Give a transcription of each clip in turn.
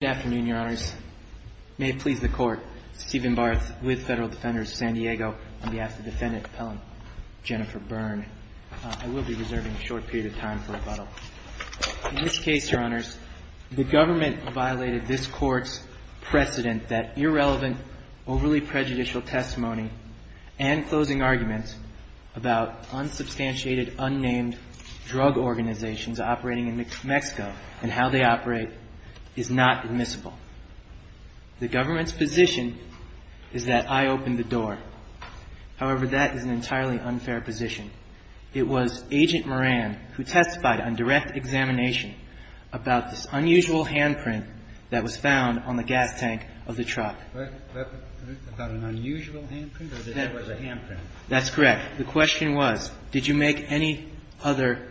Good afternoon, Your Honors. May it please the Court, Stephen Barth with Federal Defender of San Diego, on behalf of Defendant Appellant Jennifer Byrne. I will be reserving a short period of time for rebuttal. In this case, Your Honors, the government violated this Court's precedent that irrelevant, overly prejudicial testimony and closing arguments about unsubstantiated, unnamed drug organizations operating in Mexico and how they operate is not admissible. The government's position is that I opened the door. However, that is an entirely unfair position. It was Agent Moran who testified on direct examination about this unusual handprint that was found on the gas tank of the truck. Was that an unusual handprint or was it a handprint? That's correct. The question was, did you make any other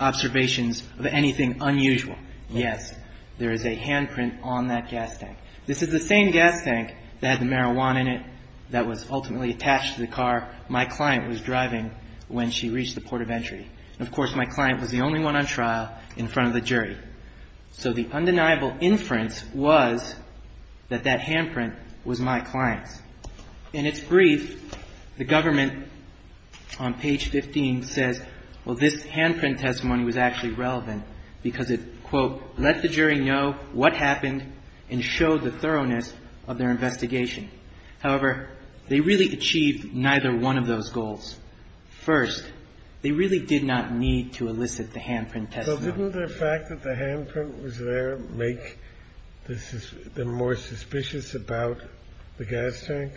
observations of anything unusual? Yes. There is a handprint on that gas tank. This is the same gas tank that had the marijuana in it that was ultimately attached to the car my client was driving when she reached the port of entry. Of course, my client was the only one on trial in front of the jury. So the undeniable inference was that that handprint was my client's. In its brief, the government, on page 15, says, well, this handprint testimony was actually relevant because it, quote, let the jury know what happened and showed the thoroughness of their investigation. However, they really achieved neither one of those goals. First, they really did not need to elicit the handprint testimony. So didn't the fact that the handprint was there make them more suspicious about the gas tank?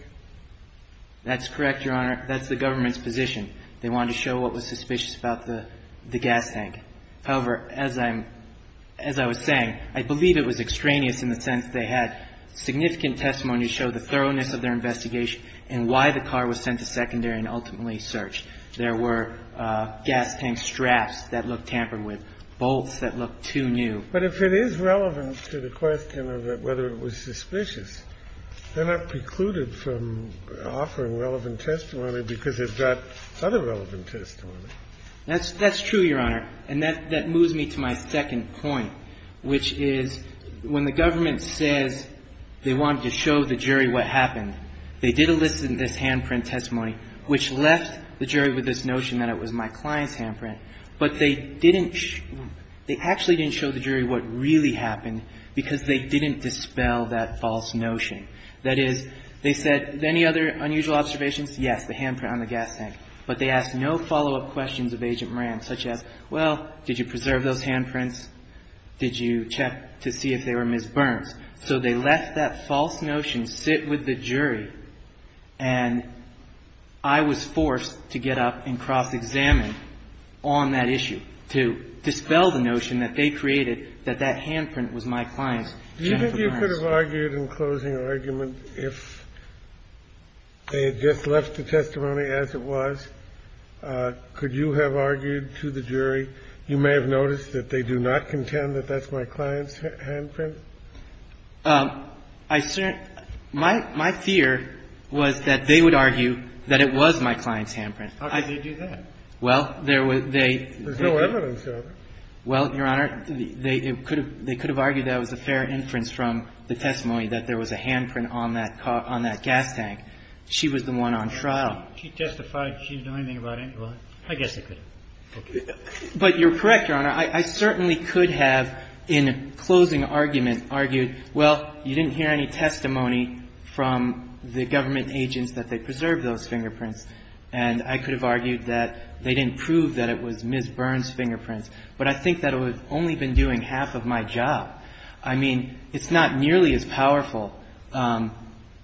That's correct, Your Honor. That's the government's position. They wanted to show what was suspicious about the gas tank. However, as I'm – as I was saying, I believe it was extraneous in the sense they had significant testimony to show the thoroughness of their investigation and why the car was sent to secondary and ultimately searched. There were gas tank straps that looked tampered with, bolts that looked too new. But if it is relevant to the question of whether it was suspicious, they're not precluded from offering relevant testimony because it's got other relevant testimony. That's true, Your Honor. And that moves me to my second point, which is when the government says they wanted to show the jury what happened, they did elicit this handprint testimony, which left the jury with this notion that it was my client's handprint, but they didn't – they said, any other unusual observations? Yes, the handprint on the gas tank. But they asked no follow-up questions of Agent Moran, such as, well, did you preserve those handprints? Did you check to see if they were Ms. Burns? So they left that false notion, sit with the jury, and I was forced to get up and cross-examine on that issue to dispel the notion that they created that that handprint was my client's. Do you think you could have argued in closing argument, if they had just left the testimony as it was, could you have argued to the jury, you may have noticed that they do not contend that that's my client's handprint? I certainly – my fear was that they would argue that it was my client's handprint. How could they do that? Well, there was – they – There's no evidence of it. Well, Your Honor, they could have argued that it was a fair inference from the testimony that there was a handprint on that gas tank. She was the one on trial. She testified she didn't know anything about it. Well, I guess they could have. But you're correct, Your Honor. I certainly could have, in closing argument, argued, well, you didn't hear any testimony from the government agents that they preserved those fingerprints. And I could have argued that they didn't prove that it was Ms. Burns' fingerprints. But I think that would have only been doing half of my job. I mean, it's not nearly as powerful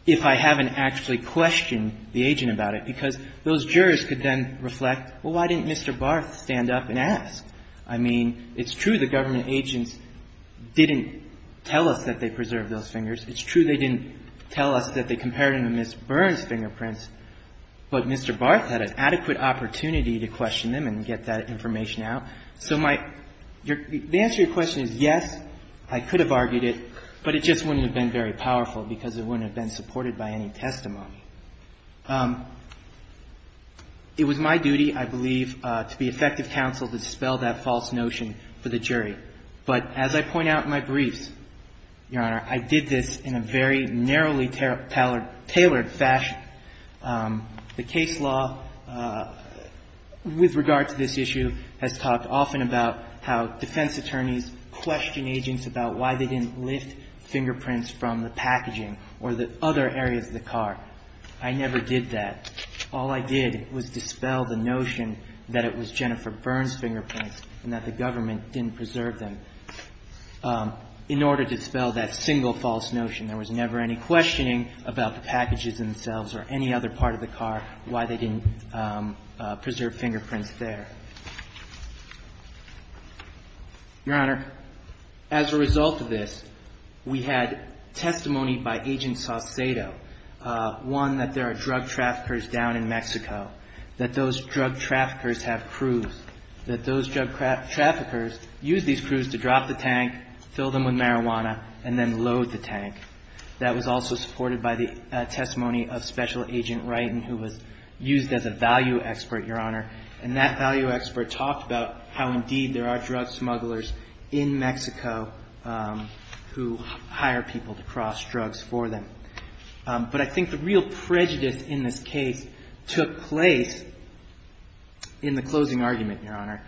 if I haven't actually questioned the agent about it, because those jurors could then reflect, well, why didn't Mr. Barth stand up and ask? I mean, it's true the government agents didn't tell us that they preserved those fingers. It's true they didn't tell us that they compared them to Ms. Burns' fingerprints. But Mr. Barth had an adequate opportunity to question them and get that information out. So my – the answer to your question is yes, I could have argued it, but it just wouldn't have been very powerful because it wouldn't have been supported by any testimony. It was my duty, I believe, to be effective counsel to dispel that false notion for the jury. But as I point out in my briefs, Your Honor, I did this in a very narrowly tailored fashion. The case law with regard to this issue has talked often about how defense attorneys question agents about why they didn't lift fingerprints from the packaging or the other areas of the car. I never did that. All I did was dispel the notion that it was Jennifer Burns' fingerprints and that the government didn't preserve them. In order to dispel that single false notion, there was never any questioning about the packages themselves or any other part of the car why they didn't preserve fingerprints there. Your Honor, as a result of this, we had testimony by Agent Saucedo. One, that there are drug traffickers down in Mexico, that those drug traffickers have crews, that those drug traffickers use these crews to drop the tank, fill them with marijuana, and then load the tank. That was also supported by the testimony of Special Agent Wright, who was used as a value expert, Your Honor. And that value expert talked about how, indeed, there are drug smugglers in Mexico who hire people to cross drugs for them. But I think the real prejudice in this case took place in the closing argument, Your Honor.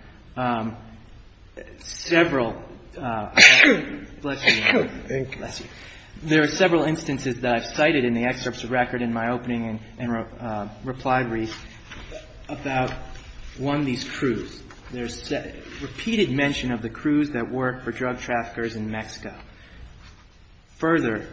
There are several instances that I've cited in the excerpts of record in my opening and reply brief about, one, these crews. There's repeated mention of the crews that work for drug traffickers in Mexico. Further,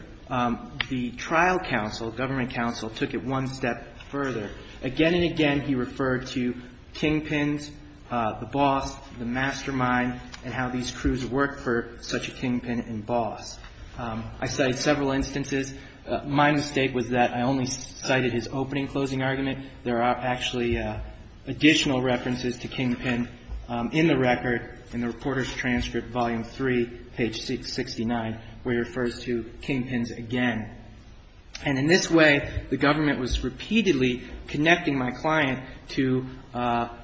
the trial counsel, government counsel, took it one step further. Again and again, he referred to kingpins, the boss, the mastermind, and how these crews work for such a kingpin and boss. I cited several instances. My mistake was that I only cited his opening closing argument. There are actually additional references to kingpin in the record, in the reporter's transcript, Volume 3, page 69, where he refers to kingpins again. And in this way, the government was repeatedly connecting my client to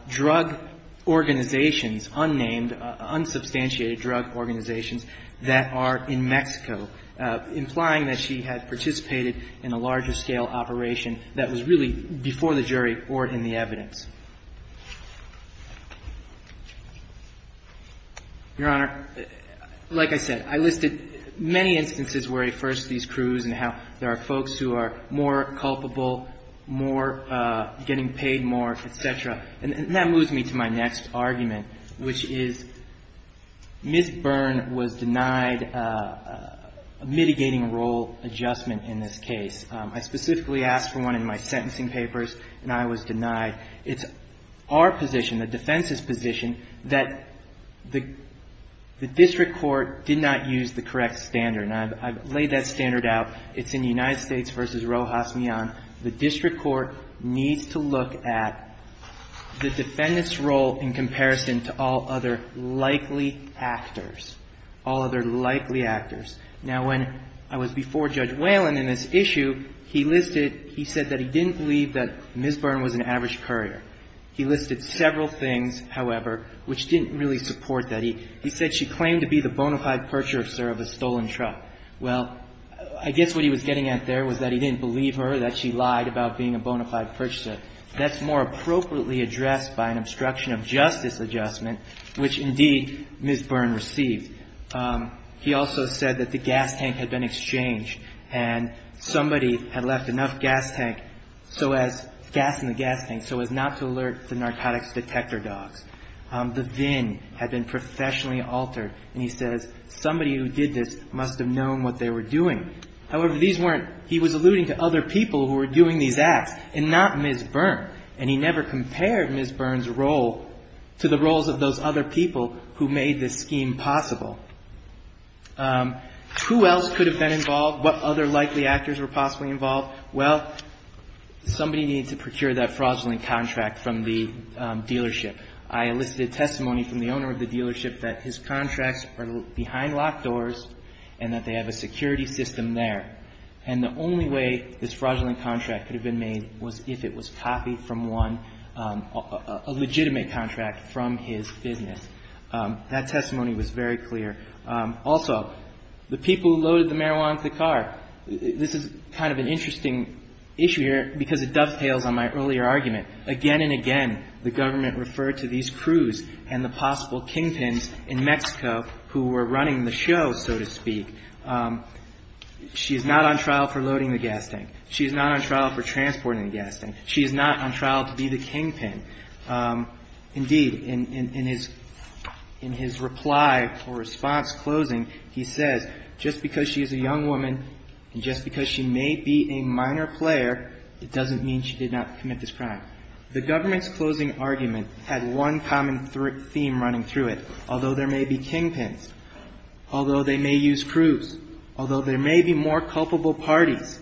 drug organizations, unnamed, unsubstantiated drug organizations, that are in Mexico, implying that she had participated in a larger-scale operation that was really before the jury or in the evidence. Your Honor, like I said, I listed many instances where he refers to these crews and how there are folks who are more culpable, more, getting paid more, et cetera. And that moves me to my next argument, which is Ms. Byrne was denied a mitigating role adjustment in this case. I specifically asked for one in my sentencing papers, and I was denied. It's our position, the defense's position, that the district court did not use the correct standard. And I've laid that standard out. It's in United States v. Rojas Mian. The district court needs to look at the defendant's role in comparison to all other likely actors, all other likely actors. Now, when I was before Judge Whalen in this issue, he listed, he said that he didn't believe that Ms. Byrne was an average courier. He listed several things, however, which didn't really support that. He said she claimed to be the bona fide purchaser of a stolen truck. Well, I guess what he was getting at there was that he didn't believe her, that she lied about being a bona fide purchaser. That's more appropriately addressed by an obstruction of justice adjustment, which, indeed, Ms. Byrne received. He also said that the gas tank had been exchanged and somebody had left enough gas tank so as, gas in the gas tank, so as not to alert the narcotics detector dogs. The VIN had been professionally altered, and he says somebody who did this must have known what they were doing. However, these weren't, he was alluding to other people who were doing these acts and not Ms. Byrne, and he never compared Ms. Byrne's role to the roles of those other people who made this scheme possible. Who else could have been involved? What other likely actors were possibly involved? Well, somebody needed to procure that fraudulent contract from the dealership. I elicited testimony from the owner of the dealership that his contracts are behind locked doors and that they have a security system there. And the only way this fraudulent contract could have been made was if it was copied from one, a legitimate contract from his business. That testimony was very clear. Also, the people who loaded the marijuana into the car. This is kind of an interesting issue here because it dovetails on my earlier argument. Again and again, the government referred to these crews and the possible kingpins in Mexico who were running the show, so to speak. She is not on trial for loading the gas tank. She is not on trial for transporting the gas tank. She is not on trial to be the kingpin. Indeed, in his reply or response closing, he says, just because she is a young woman and just because she may be a minor player, it doesn't mean she did not commit this crime. The government's closing argument had one common theme running through it. Although there may be kingpins, although they may use crews, although there may be more culpable parties,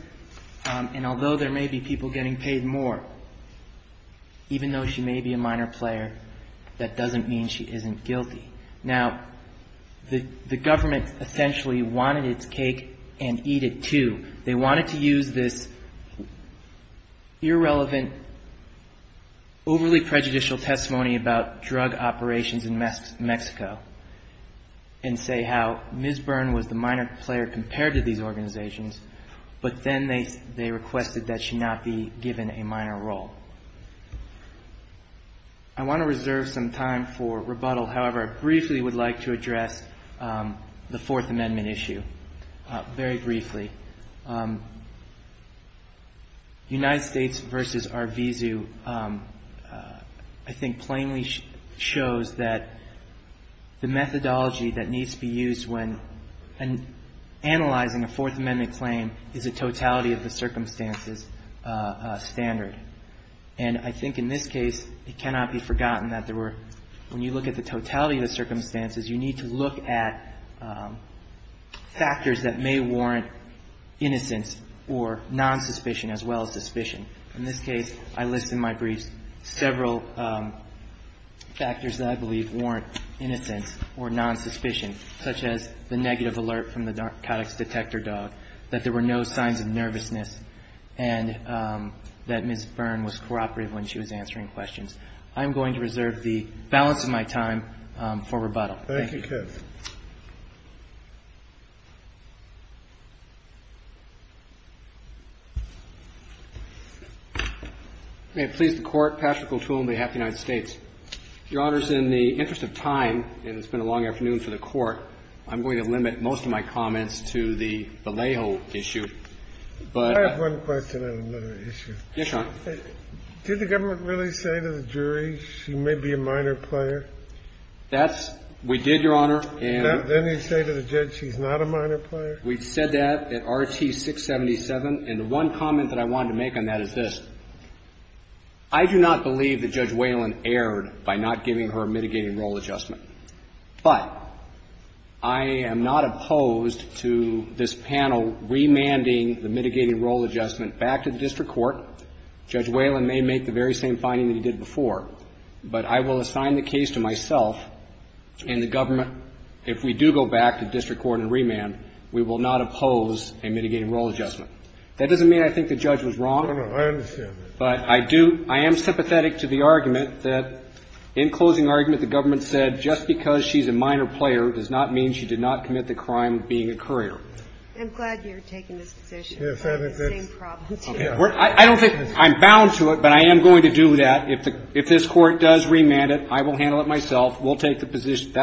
and although there may be people getting paid more, even though she may be a minor player, that doesn't mean she isn't guilty. Now, the government essentially wanted its cake and eat it, too. They wanted to use this irrelevant, overly prejudicial testimony about drug operations in Mexico and say how Ms. Byrne was the minor player compared to these organizations, but then they requested that she not be given a minor role. I want to reserve some time for rebuttal. However, I briefly would like to address the Fourth Amendment issue, very briefly. United States v. Arvizu, I think, plainly shows that the methodology that needs to be used when analyzing a Fourth Amendment claim is a totality of the circumstances standard. And I think in this case, it cannot be forgotten that there were, when you look at the totality of the circumstances, you need to look at factors that may warrant innocence or nonsuspicion as well as suspicion. In this case, I list in my briefs several factors that I believe warrant innocence or nonsuspicion, such as the negative alert from the narcotics detector dog, that there were no signs of nervousness, and that Ms. Byrne was cooperative when she was answering questions. I'm going to reserve the balance of my time for rebuttal. Thank you. Thank you, Keith. May it please the Court. Patrick O'Toole on behalf of the United States. Your Honors, in the interest of time, and it's been a long afternoon for the Court, I'm going to limit most of my comments to the Vallejo issue. I have one question on another issue. Yes, Your Honor. Did the government really say to the jury she may be a minor player? That's – we did, Your Honor. Then they say to the judge she's not a minor player? We said that at RT-677, and the one comment that I wanted to make on that is this. I do not believe that Judge Whalen erred by not giving her a mitigating role adjustment. But I am not opposed to this panel remanding the mitigating role adjustment back to the district court. Judge Whalen may make the very same finding that he did before, but I will assign the case to myself and the government. If we do go back to the district court and remand, we will not oppose a mitigating role adjustment. That doesn't mean I think the judge was wrong. No, no. I understand that. But I do – I am sympathetic to the argument that in closing argument the government said just because she's a minor player does not mean she did not commit the crime of being a courier. I'm glad you're taking this position. I don't think – I'm bound to it, but I am going to do that. If this Court does remand it, I will handle it myself. We'll take that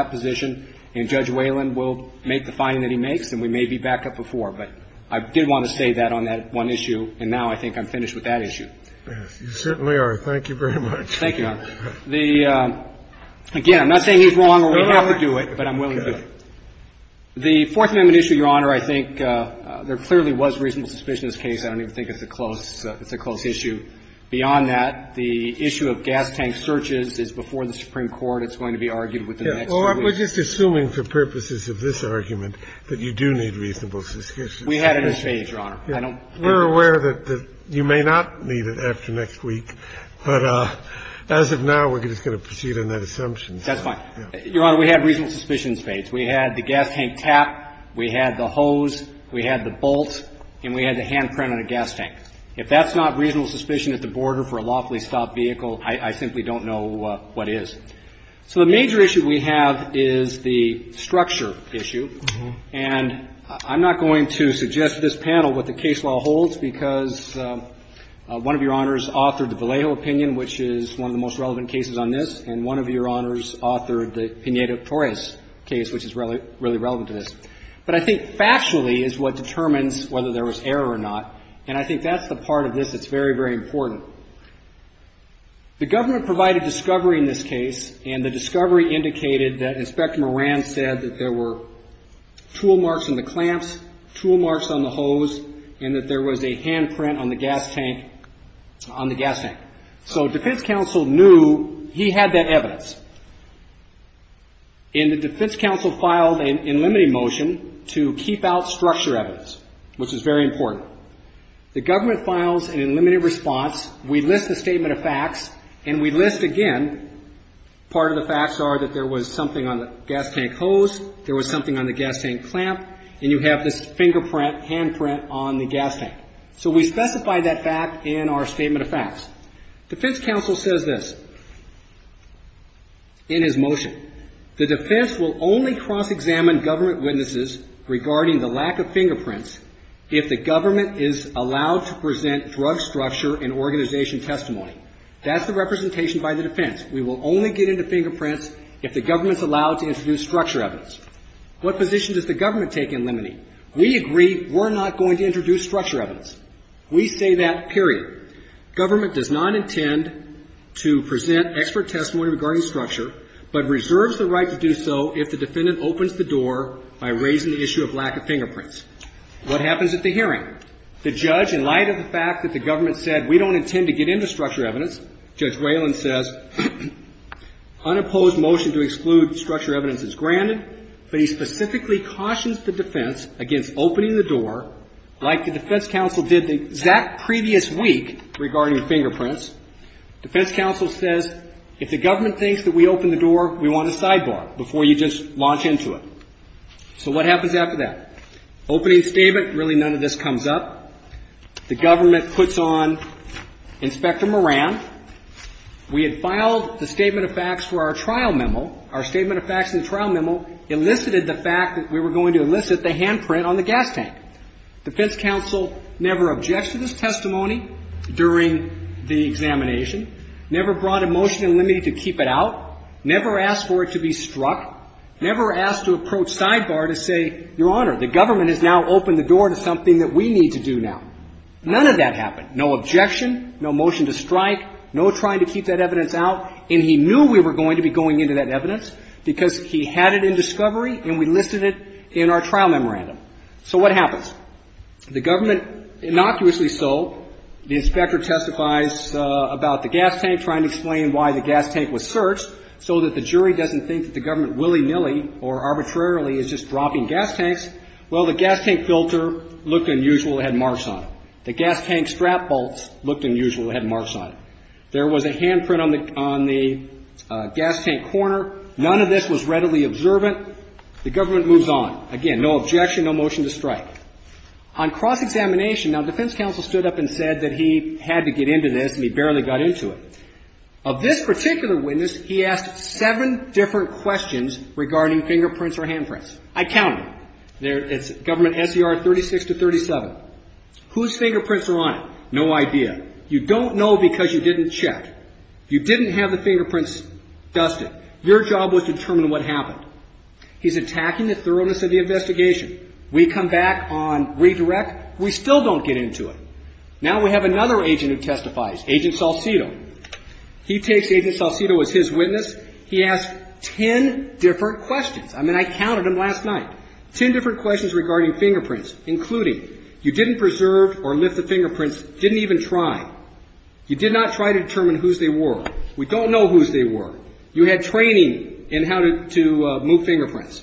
position, and Judge Whalen will make the finding that he makes, and we may be back up before. But I did want to say that on that one issue, and now I think I'm finished with that issue. Yes, you certainly are. Thank you very much. Thank you, Your Honor. The – again, I'm not saying he's wrong or we have to do it, but I'm willing to do it. The Fourth Amendment issue, Your Honor, I think there clearly was reasonable suspicion in this case. I don't even think it's a close – it's a close issue. Beyond that, the issue of gas tank searches is before the Supreme Court. It's going to be argued within the next few weeks. Well, we're just assuming for purposes of this argument that you do need reasonable suspicion. We had it at this page, Your Honor. I don't – We're aware that you may not need it after next week, but as of now, we're just going to proceed on that assumption. That's fine. Your Honor, we had reasonable suspicion at this page. We had the gas tank tap, we had the hose, we had the bolt, and we had the handprint on the gas tank. If that's not reasonable suspicion at the border for a lawfully stopped vehicle, I simply don't know what is. So the major issue we have is the structure issue. And I'm not going to suggest to this panel what the case law holds because one of Your Honors authored the Vallejo opinion, which is one of the most relevant cases on this, and one of Your Honors authored the Pineda-Torres case, which is really relevant to this. But I think factually is what determines whether there was error or not, and I think that's the part of this that's very, very important. The government provided discovery in this case, and the discovery indicated that Inspector Moran said that there were tool marks on the clamps, tool marks on the hose, and that there was a handprint on the gas tank – on the gas tank. So defense counsel knew he had that evidence. And the defense counsel filed an unlimited motion to keep out structure evidence, which is very important. The government files an unlimited response, we list the statement of facts, and we list again part of the facts are that there was something on the gas tank hose, there was something on the gas tank clamp, and you have this fingerprint, handprint on the gas tank. So we specify that fact in our statement of facts. Defense counsel says this in his motion. The defense will only cross-examine government witnesses regarding the lack of fingerprints if the government is allowed to present drug structure and organization testimony. That's the representation by the defense. We will only get into fingerprints if the government's allowed to introduce structure evidence. What position does the government take in limiting? We agree we're not going to introduce structure evidence. We say that, period. Government does not intend to present expert testimony regarding structure, but reserves the right to do so if the defendant opens the door by raising the issue of lack of fingerprints. What happens at the hearing? The judge, in light of the fact that the government said we don't intend to get into structure evidence, Judge Whalen says unopposed motion to exclude structure evidence is granted, but he specifically cautions the defense against opening the door like the defense counsel did the exact previous week regarding fingerprints. Defense counsel says if the government thinks that we open the door, we want a sidebar before you just launch into it. So what happens after that? Opening statement, really none of this comes up. The government puts on Inspector Moran. We had filed the statement of facts for our trial memo. Our statement of facts in the trial memo elicited the fact that we were going to elicit the handprint on the gas tank. Defense counsel never objected to this testimony during the examination, never brought a motion in limiting to keep it out, never asked for it to be struck, never asked to approach sidebar to say, Your Honor, the government has now opened the door to something that we need to do now. None of that happened. No objection, no motion to strike, no trying to keep that evidence out, and he knew we were going to be going into that evidence because he had it in discovery and we listed it in our trial memorandum. So what happens? The government innocuously sold. The inspector testifies about the gas tank, trying to explain why the gas tank was searched so that the jury doesn't think that the government willy-nilly or arbitrarily is just dropping gas tanks. Well, the gas tank filter looked unusual. It had marks on it. The gas tank strap bolts looked unusual. It had marks on it. There was a handprint on the gas tank corner. None of this was readily observant. The government moves on. Again, no objection, no motion to strike. On cross-examination, now, defense counsel stood up and said that he had to get into this and he barely got into it. Of this particular witness, he asked seven different questions regarding fingerprints or handprints. I counted them. It's Government S.E.R. 36 to 37. Whose fingerprints are on it? No idea. You don't know because you didn't check. You didn't have the fingerprints dusted. Your job was to determine what happened. He's attacking the thoroughness of the investigation. We come back on redirect. We still don't get into it. Now we have another agent who testifies, Agent Salcido. He takes Agent Salcido as his witness. He asked ten different questions. I mean, I counted them last night. Ten different questions regarding fingerprints, including you didn't preserve or lift the You did not try to determine whose they were. We don't know whose they were. You had training in how to move fingerprints.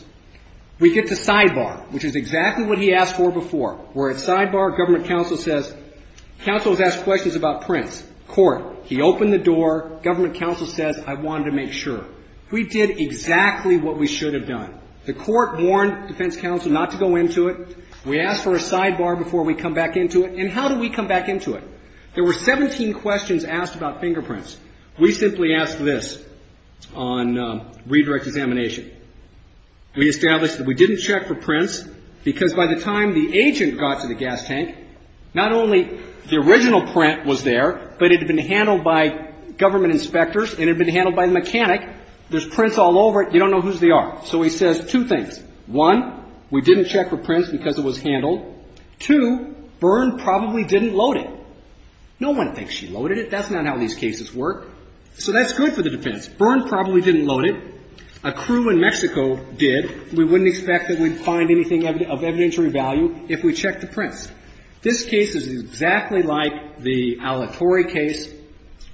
We get to sidebar, which is exactly what he asked for before. We're at sidebar. Government counsel says, counsel has asked questions about prints. Court, he opened the door. Government counsel says, I wanted to make sure. We did exactly what we should have done. The court warned defense counsel not to go into it. We asked for a sidebar before we come back into it. And how do we come back into it? There were 17 questions asked about fingerprints. We simply asked this on redirect examination. We established that we didn't check for prints because by the time the agent got to the gas tank, not only the original print was there, but it had been handled by government inspectors and it had been handled by the mechanic. There's prints all over it. You don't know whose they are. So he says two things. One, we didn't check for prints because it was handled. Two, Byrne probably didn't load it. No one thinks she loaded it. That's not how these cases work. So that's good for the defense. Byrne probably didn't load it. A crew in Mexico did. We wouldn't expect that we'd find anything of evidentiary value if we checked the prints. This case is exactly like the Alatorre case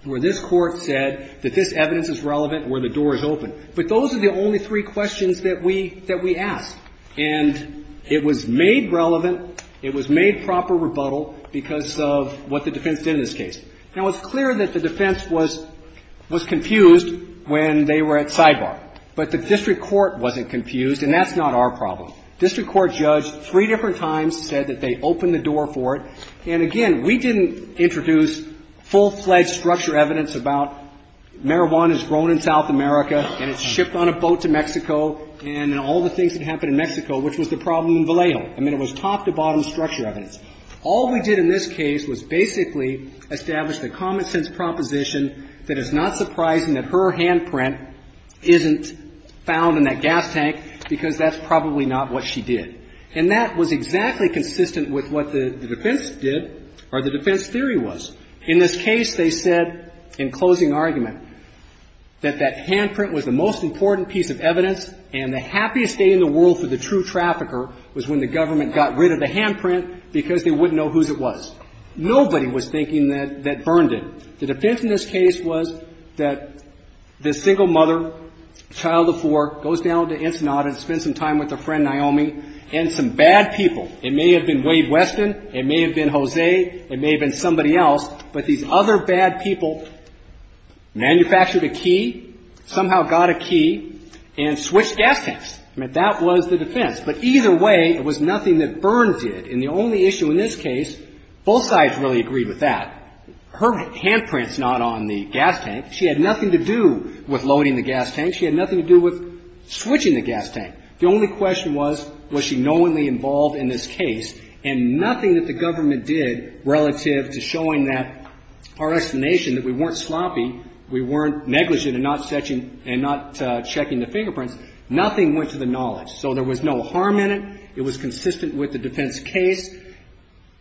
where this Court said that this evidence is relevant where the door is open. But those are the only three questions that we asked. And it was made relevant. It was made proper rebuttal because of what the defense did in this case. Now, it's clear that the defense was confused when they were at sidebar. But the district court wasn't confused, and that's not our problem. District court judge three different times said that they opened the door for it. And, again, we didn't introduce full-fledged structure evidence about marijuana is grown in South America and it's shipped on a boat to Mexico, and all the things that happened in Mexico, which was the problem in Vallejo. I mean, it was top-to-bottom structure evidence. All we did in this case was basically establish the common-sense proposition that it's not surprising that her handprint isn't found in that gas tank because that's probably not what she did. And that was exactly consistent with what the defense did or the defense theory was. In this case, they said in closing argument that that handprint was the most important piece of evidence and the happiest day in the world for the true trafficker was when the government got rid of the handprint because they wouldn't know whose it was. Nobody was thinking that that burned it. The defense in this case was that this single mother, child of four, goes down to Ensenada to spend some time with her friend Naomi and some bad people. It may have been Wade Weston. It may have been Jose. It may have been somebody else. But these other bad people manufactured a key, somehow got a key, and switched gas tanks. I mean, that was the defense. But either way, it was nothing that burns it. And the only issue in this case, both sides really agreed with that. Her handprint's not on the gas tank. She had nothing to do with loading the gas tank. She had nothing to do with switching the gas tank. The only question was, was she knowingly involved in this case? And nothing that the government did relative to showing that our estimation, that we weren't sloppy, we weren't negligent in not checking the fingerprints, nothing went to the knowledge. So there was no harm in it. It was consistent with the defense case.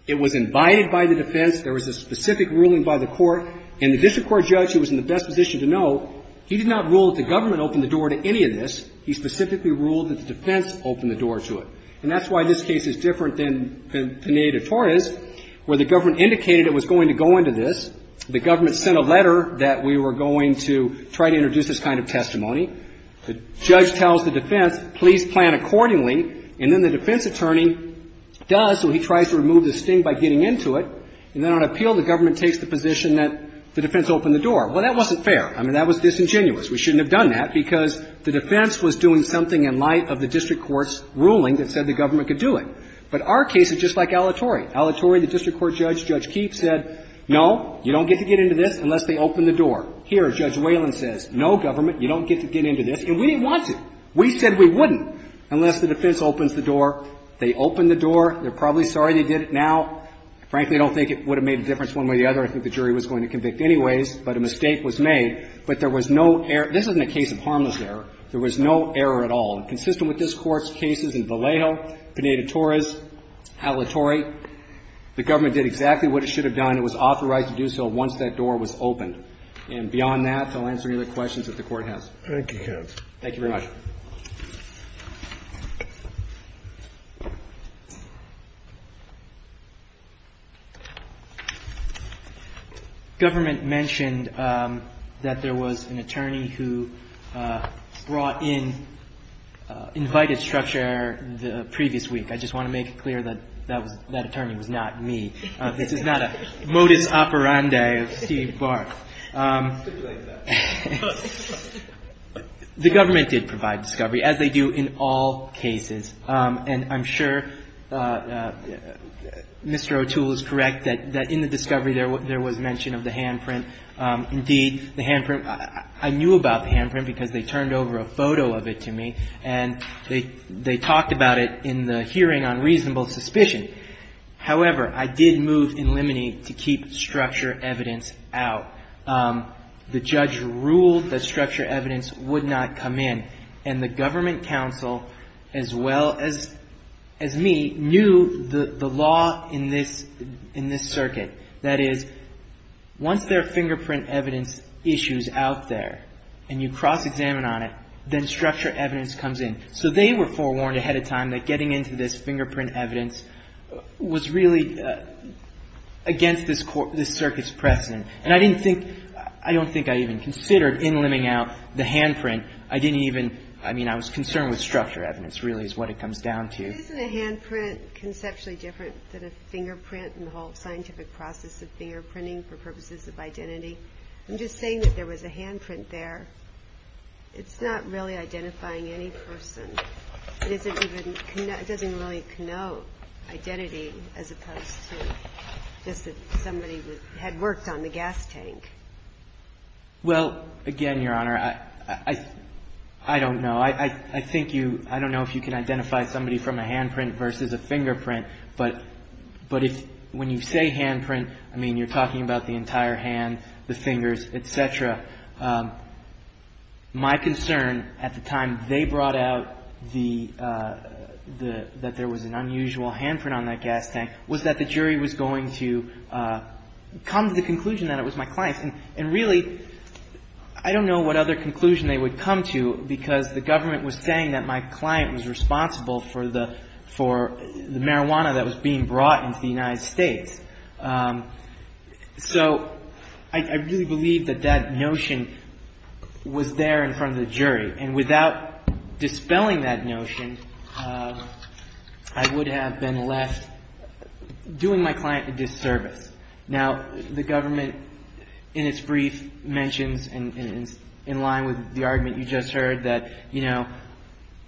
It was invited by the defense. There was a specific ruling by the court. And the district court judge, who was in the best position to know, he did not rule that the government opened the door to any of this. He specifically ruled that the defense opened the door to it. And that's why this case is different than Pineda-Torres, where the government indicated it was going to go into this. The government sent a letter that we were going to try to introduce this kind of testimony. The judge tells the defense, please plan accordingly. And then the defense attorney does, so he tries to remove the sting by getting into it. And then on appeal, the government takes the position that the defense opened the door. Well, that wasn't fair. I mean, that was disingenuous. We shouldn't have done that, because the defense was doing something in light of the district court's ruling that said the government could do it. But our case is just like Alitore. Alitore, the district court judge, Judge Keefe, said, no, you don't get to get into this unless they open the door. Here, Judge Whalen says, no, government, you don't get to get into this. And we didn't want to. We said we wouldn't unless the defense opens the door. They opened the door. They're probably sorry they did it now. Frankly, I don't think it would have made a difference one way or the other. I think the jury was going to convict anyways. But a mistake was made. But there was no error. This isn't a case of harmless error. There was no error at all. Consistent with this Court's cases in Vallejo, Pineda-Torres, Alitore, the government did exactly what it should have done. It was authorized to do so once that door was opened. And beyond that, I'll answer any other questions that the Court has. Thank you, counsel. Thank you very much. Government mentioned that there was an attorney who brought in, invited structure the previous week. I just want to make it clear that that attorney was not me. This is not a modus operandi of Steve Barth. The government did provide discovery, as they do in all cases. And I'm sure Mr. O'Toole is correct that in the discovery there was mention of the handprint. Indeed, the handprint, I knew about the handprint because they turned over a photo of it to me, and they talked about it in the hearing on reasonable suspicion. However, I did move in limine to keep structure evidence out. The judge ruled that structure evidence would not come in. And the government counsel, as well as me, knew the law in this circuit. That is, once there are fingerprint evidence issues out there and you cross-examine on it, then structure evidence comes in. So they were forewarned ahead of time that getting into this fingerprint evidence was really against this circuit's precedent. And I didn't think, I don't think I even considered in liming out the handprint. I didn't even, I mean, I was concerned with structure evidence really is what it comes down to. Isn't a handprint conceptually different than a fingerprint and the whole scientific process of fingerprinting for purposes of identity? I'm just saying that there was a handprint there. It's not really identifying any person. It isn't even, it doesn't really connote identity as opposed to just somebody who had worked on the gas tank. Well, again, Your Honor, I don't know. I think you, I don't know if you can identify somebody from a handprint versus a fingerprint. But if, when you say handprint, I mean, you're talking about the entire hand, the fingers, et cetera. My concern at the time they brought out the, that there was an unusual handprint on that gas tank was that the jury was going to come to the conclusion that it was my client. And really, I don't know what other conclusion they would come to because the government was saying that my client was responsible for the marijuana that was being brought into the United States. So I really believe that that notion was there in front of the jury. And without dispelling that notion, I would have been left doing my client a disservice. Now, the government in its brief mentions, in line with the argument you just heard, that, you know,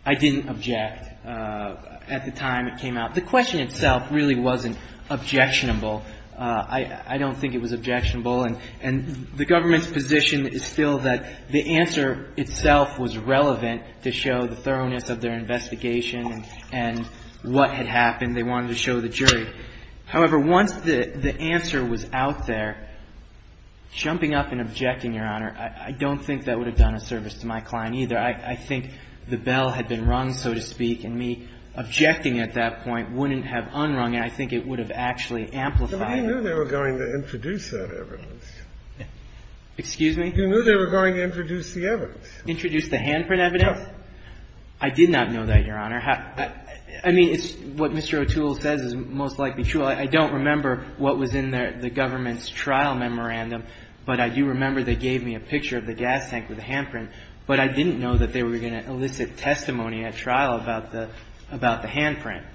I didn't object at the time it came out. The question itself really wasn't objectionable. I don't think it was objectionable. And the government's position is still that the answer itself was relevant to show the thoroughness of their investigation and what had happened. They wanted to show the jury. However, once the answer was out there, jumping up and objecting, Your Honor, I don't think that would have done a service to my client either. I think the bell had been rung, so to speak, and me objecting at that point wouldn't have unrung it. I think it would have actually amplified it. But you knew they were going to introduce that evidence. Excuse me? You knew they were going to introduce the evidence. Introduce the handprint evidence? Yes. I did not know that, Your Honor. I mean, what Mr. O'Toole says is most likely true. I don't remember what was in the government's trial memorandum, but I do remember they gave me a picture of the gas tank with the handprint. But I didn't know that they were going to elicit testimony at trial about the handprint.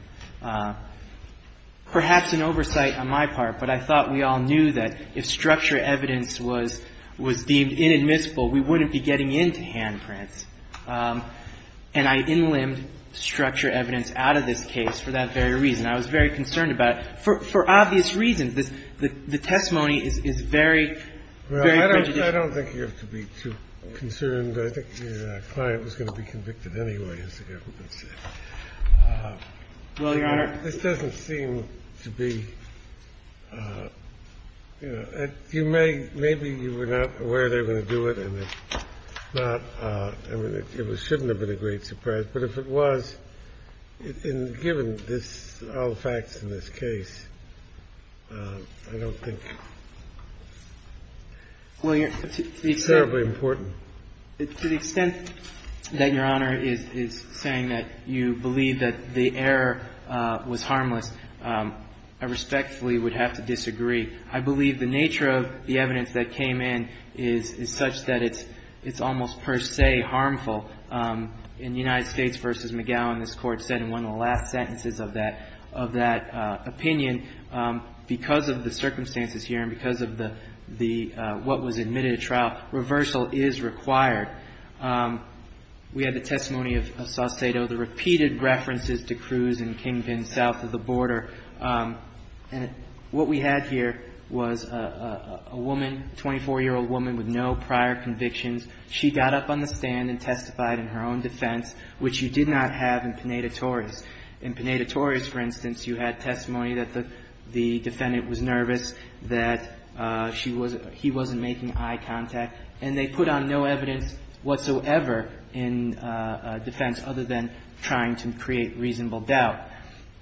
Perhaps an oversight on my part, but I thought we all knew that if structure evidence was deemed inadmissible, we wouldn't be getting into handprints. And I inlimbed structure evidence out of this case for that very reason. I was very concerned about it, for obvious reasons. The testimony is very, very prejudicial. I don't think you have to be too concerned. I think the client was going to be convicted anyway, as the government said. Well, Your Honor. This doesn't seem to be, you know, you may – maybe you were not aware they were going to do it, and it's not – I mean, it shouldn't have been a great surprise. But if it was, given this – all the facts in this case, I don't think – Well, Your Honor, to the extent – It's terribly important. To the extent that Your Honor is saying that you believe that the error was harmless, I respectfully would have to disagree. I believe the nature of the evidence that came in is such that it's almost per se harmful. In the United States v. McGowan, this Court said in one of the last sentences of that opinion, because of the circumstances here and because of the – what was admitted at trial, reversal is required. We had the testimony of Saucedo, the repeated references to Cruz and Kingpin south of the border. And what we had here was a woman, a 24-year-old woman with no prior convictions. She got up on the stand and testified in her own defense, which you did not have in Pineda-Torres. In Pineda-Torres, for instance, you had testimony that the defendant was nervous, that she wasn't – he wasn't making eye contact. And they put on no evidence whatsoever in defense other than trying to create reasonable doubt.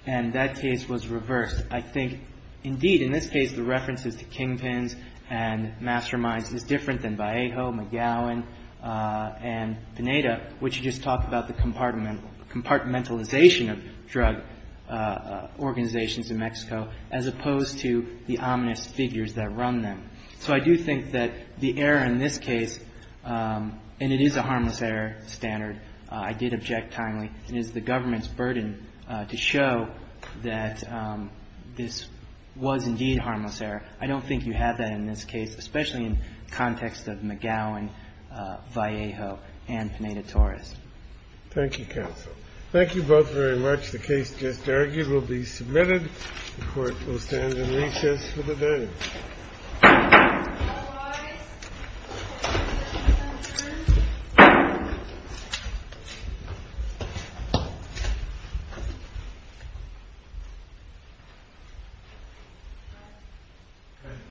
And that case was reversed. I think, indeed, in this case, the references to Kingpins and Masterminds is different than Vallejo, McGowan, and Pineda, which just talk about the compartmentalization of drug organizations in Mexico as opposed to the ominous figures that run them. So I do think that the error in this case – and it is a harmless error standard. I did object timely. It is the government's burden to show that this was, indeed, a harmless error. I don't think you have that in this case, especially in context of McGowan, Vallejo, and Pineda-Torres. Thank you, counsel. Thank you both very much. The case just argued will be submitted. The Court will stand in recess for the day. Otherwise, the hearing is adjourned.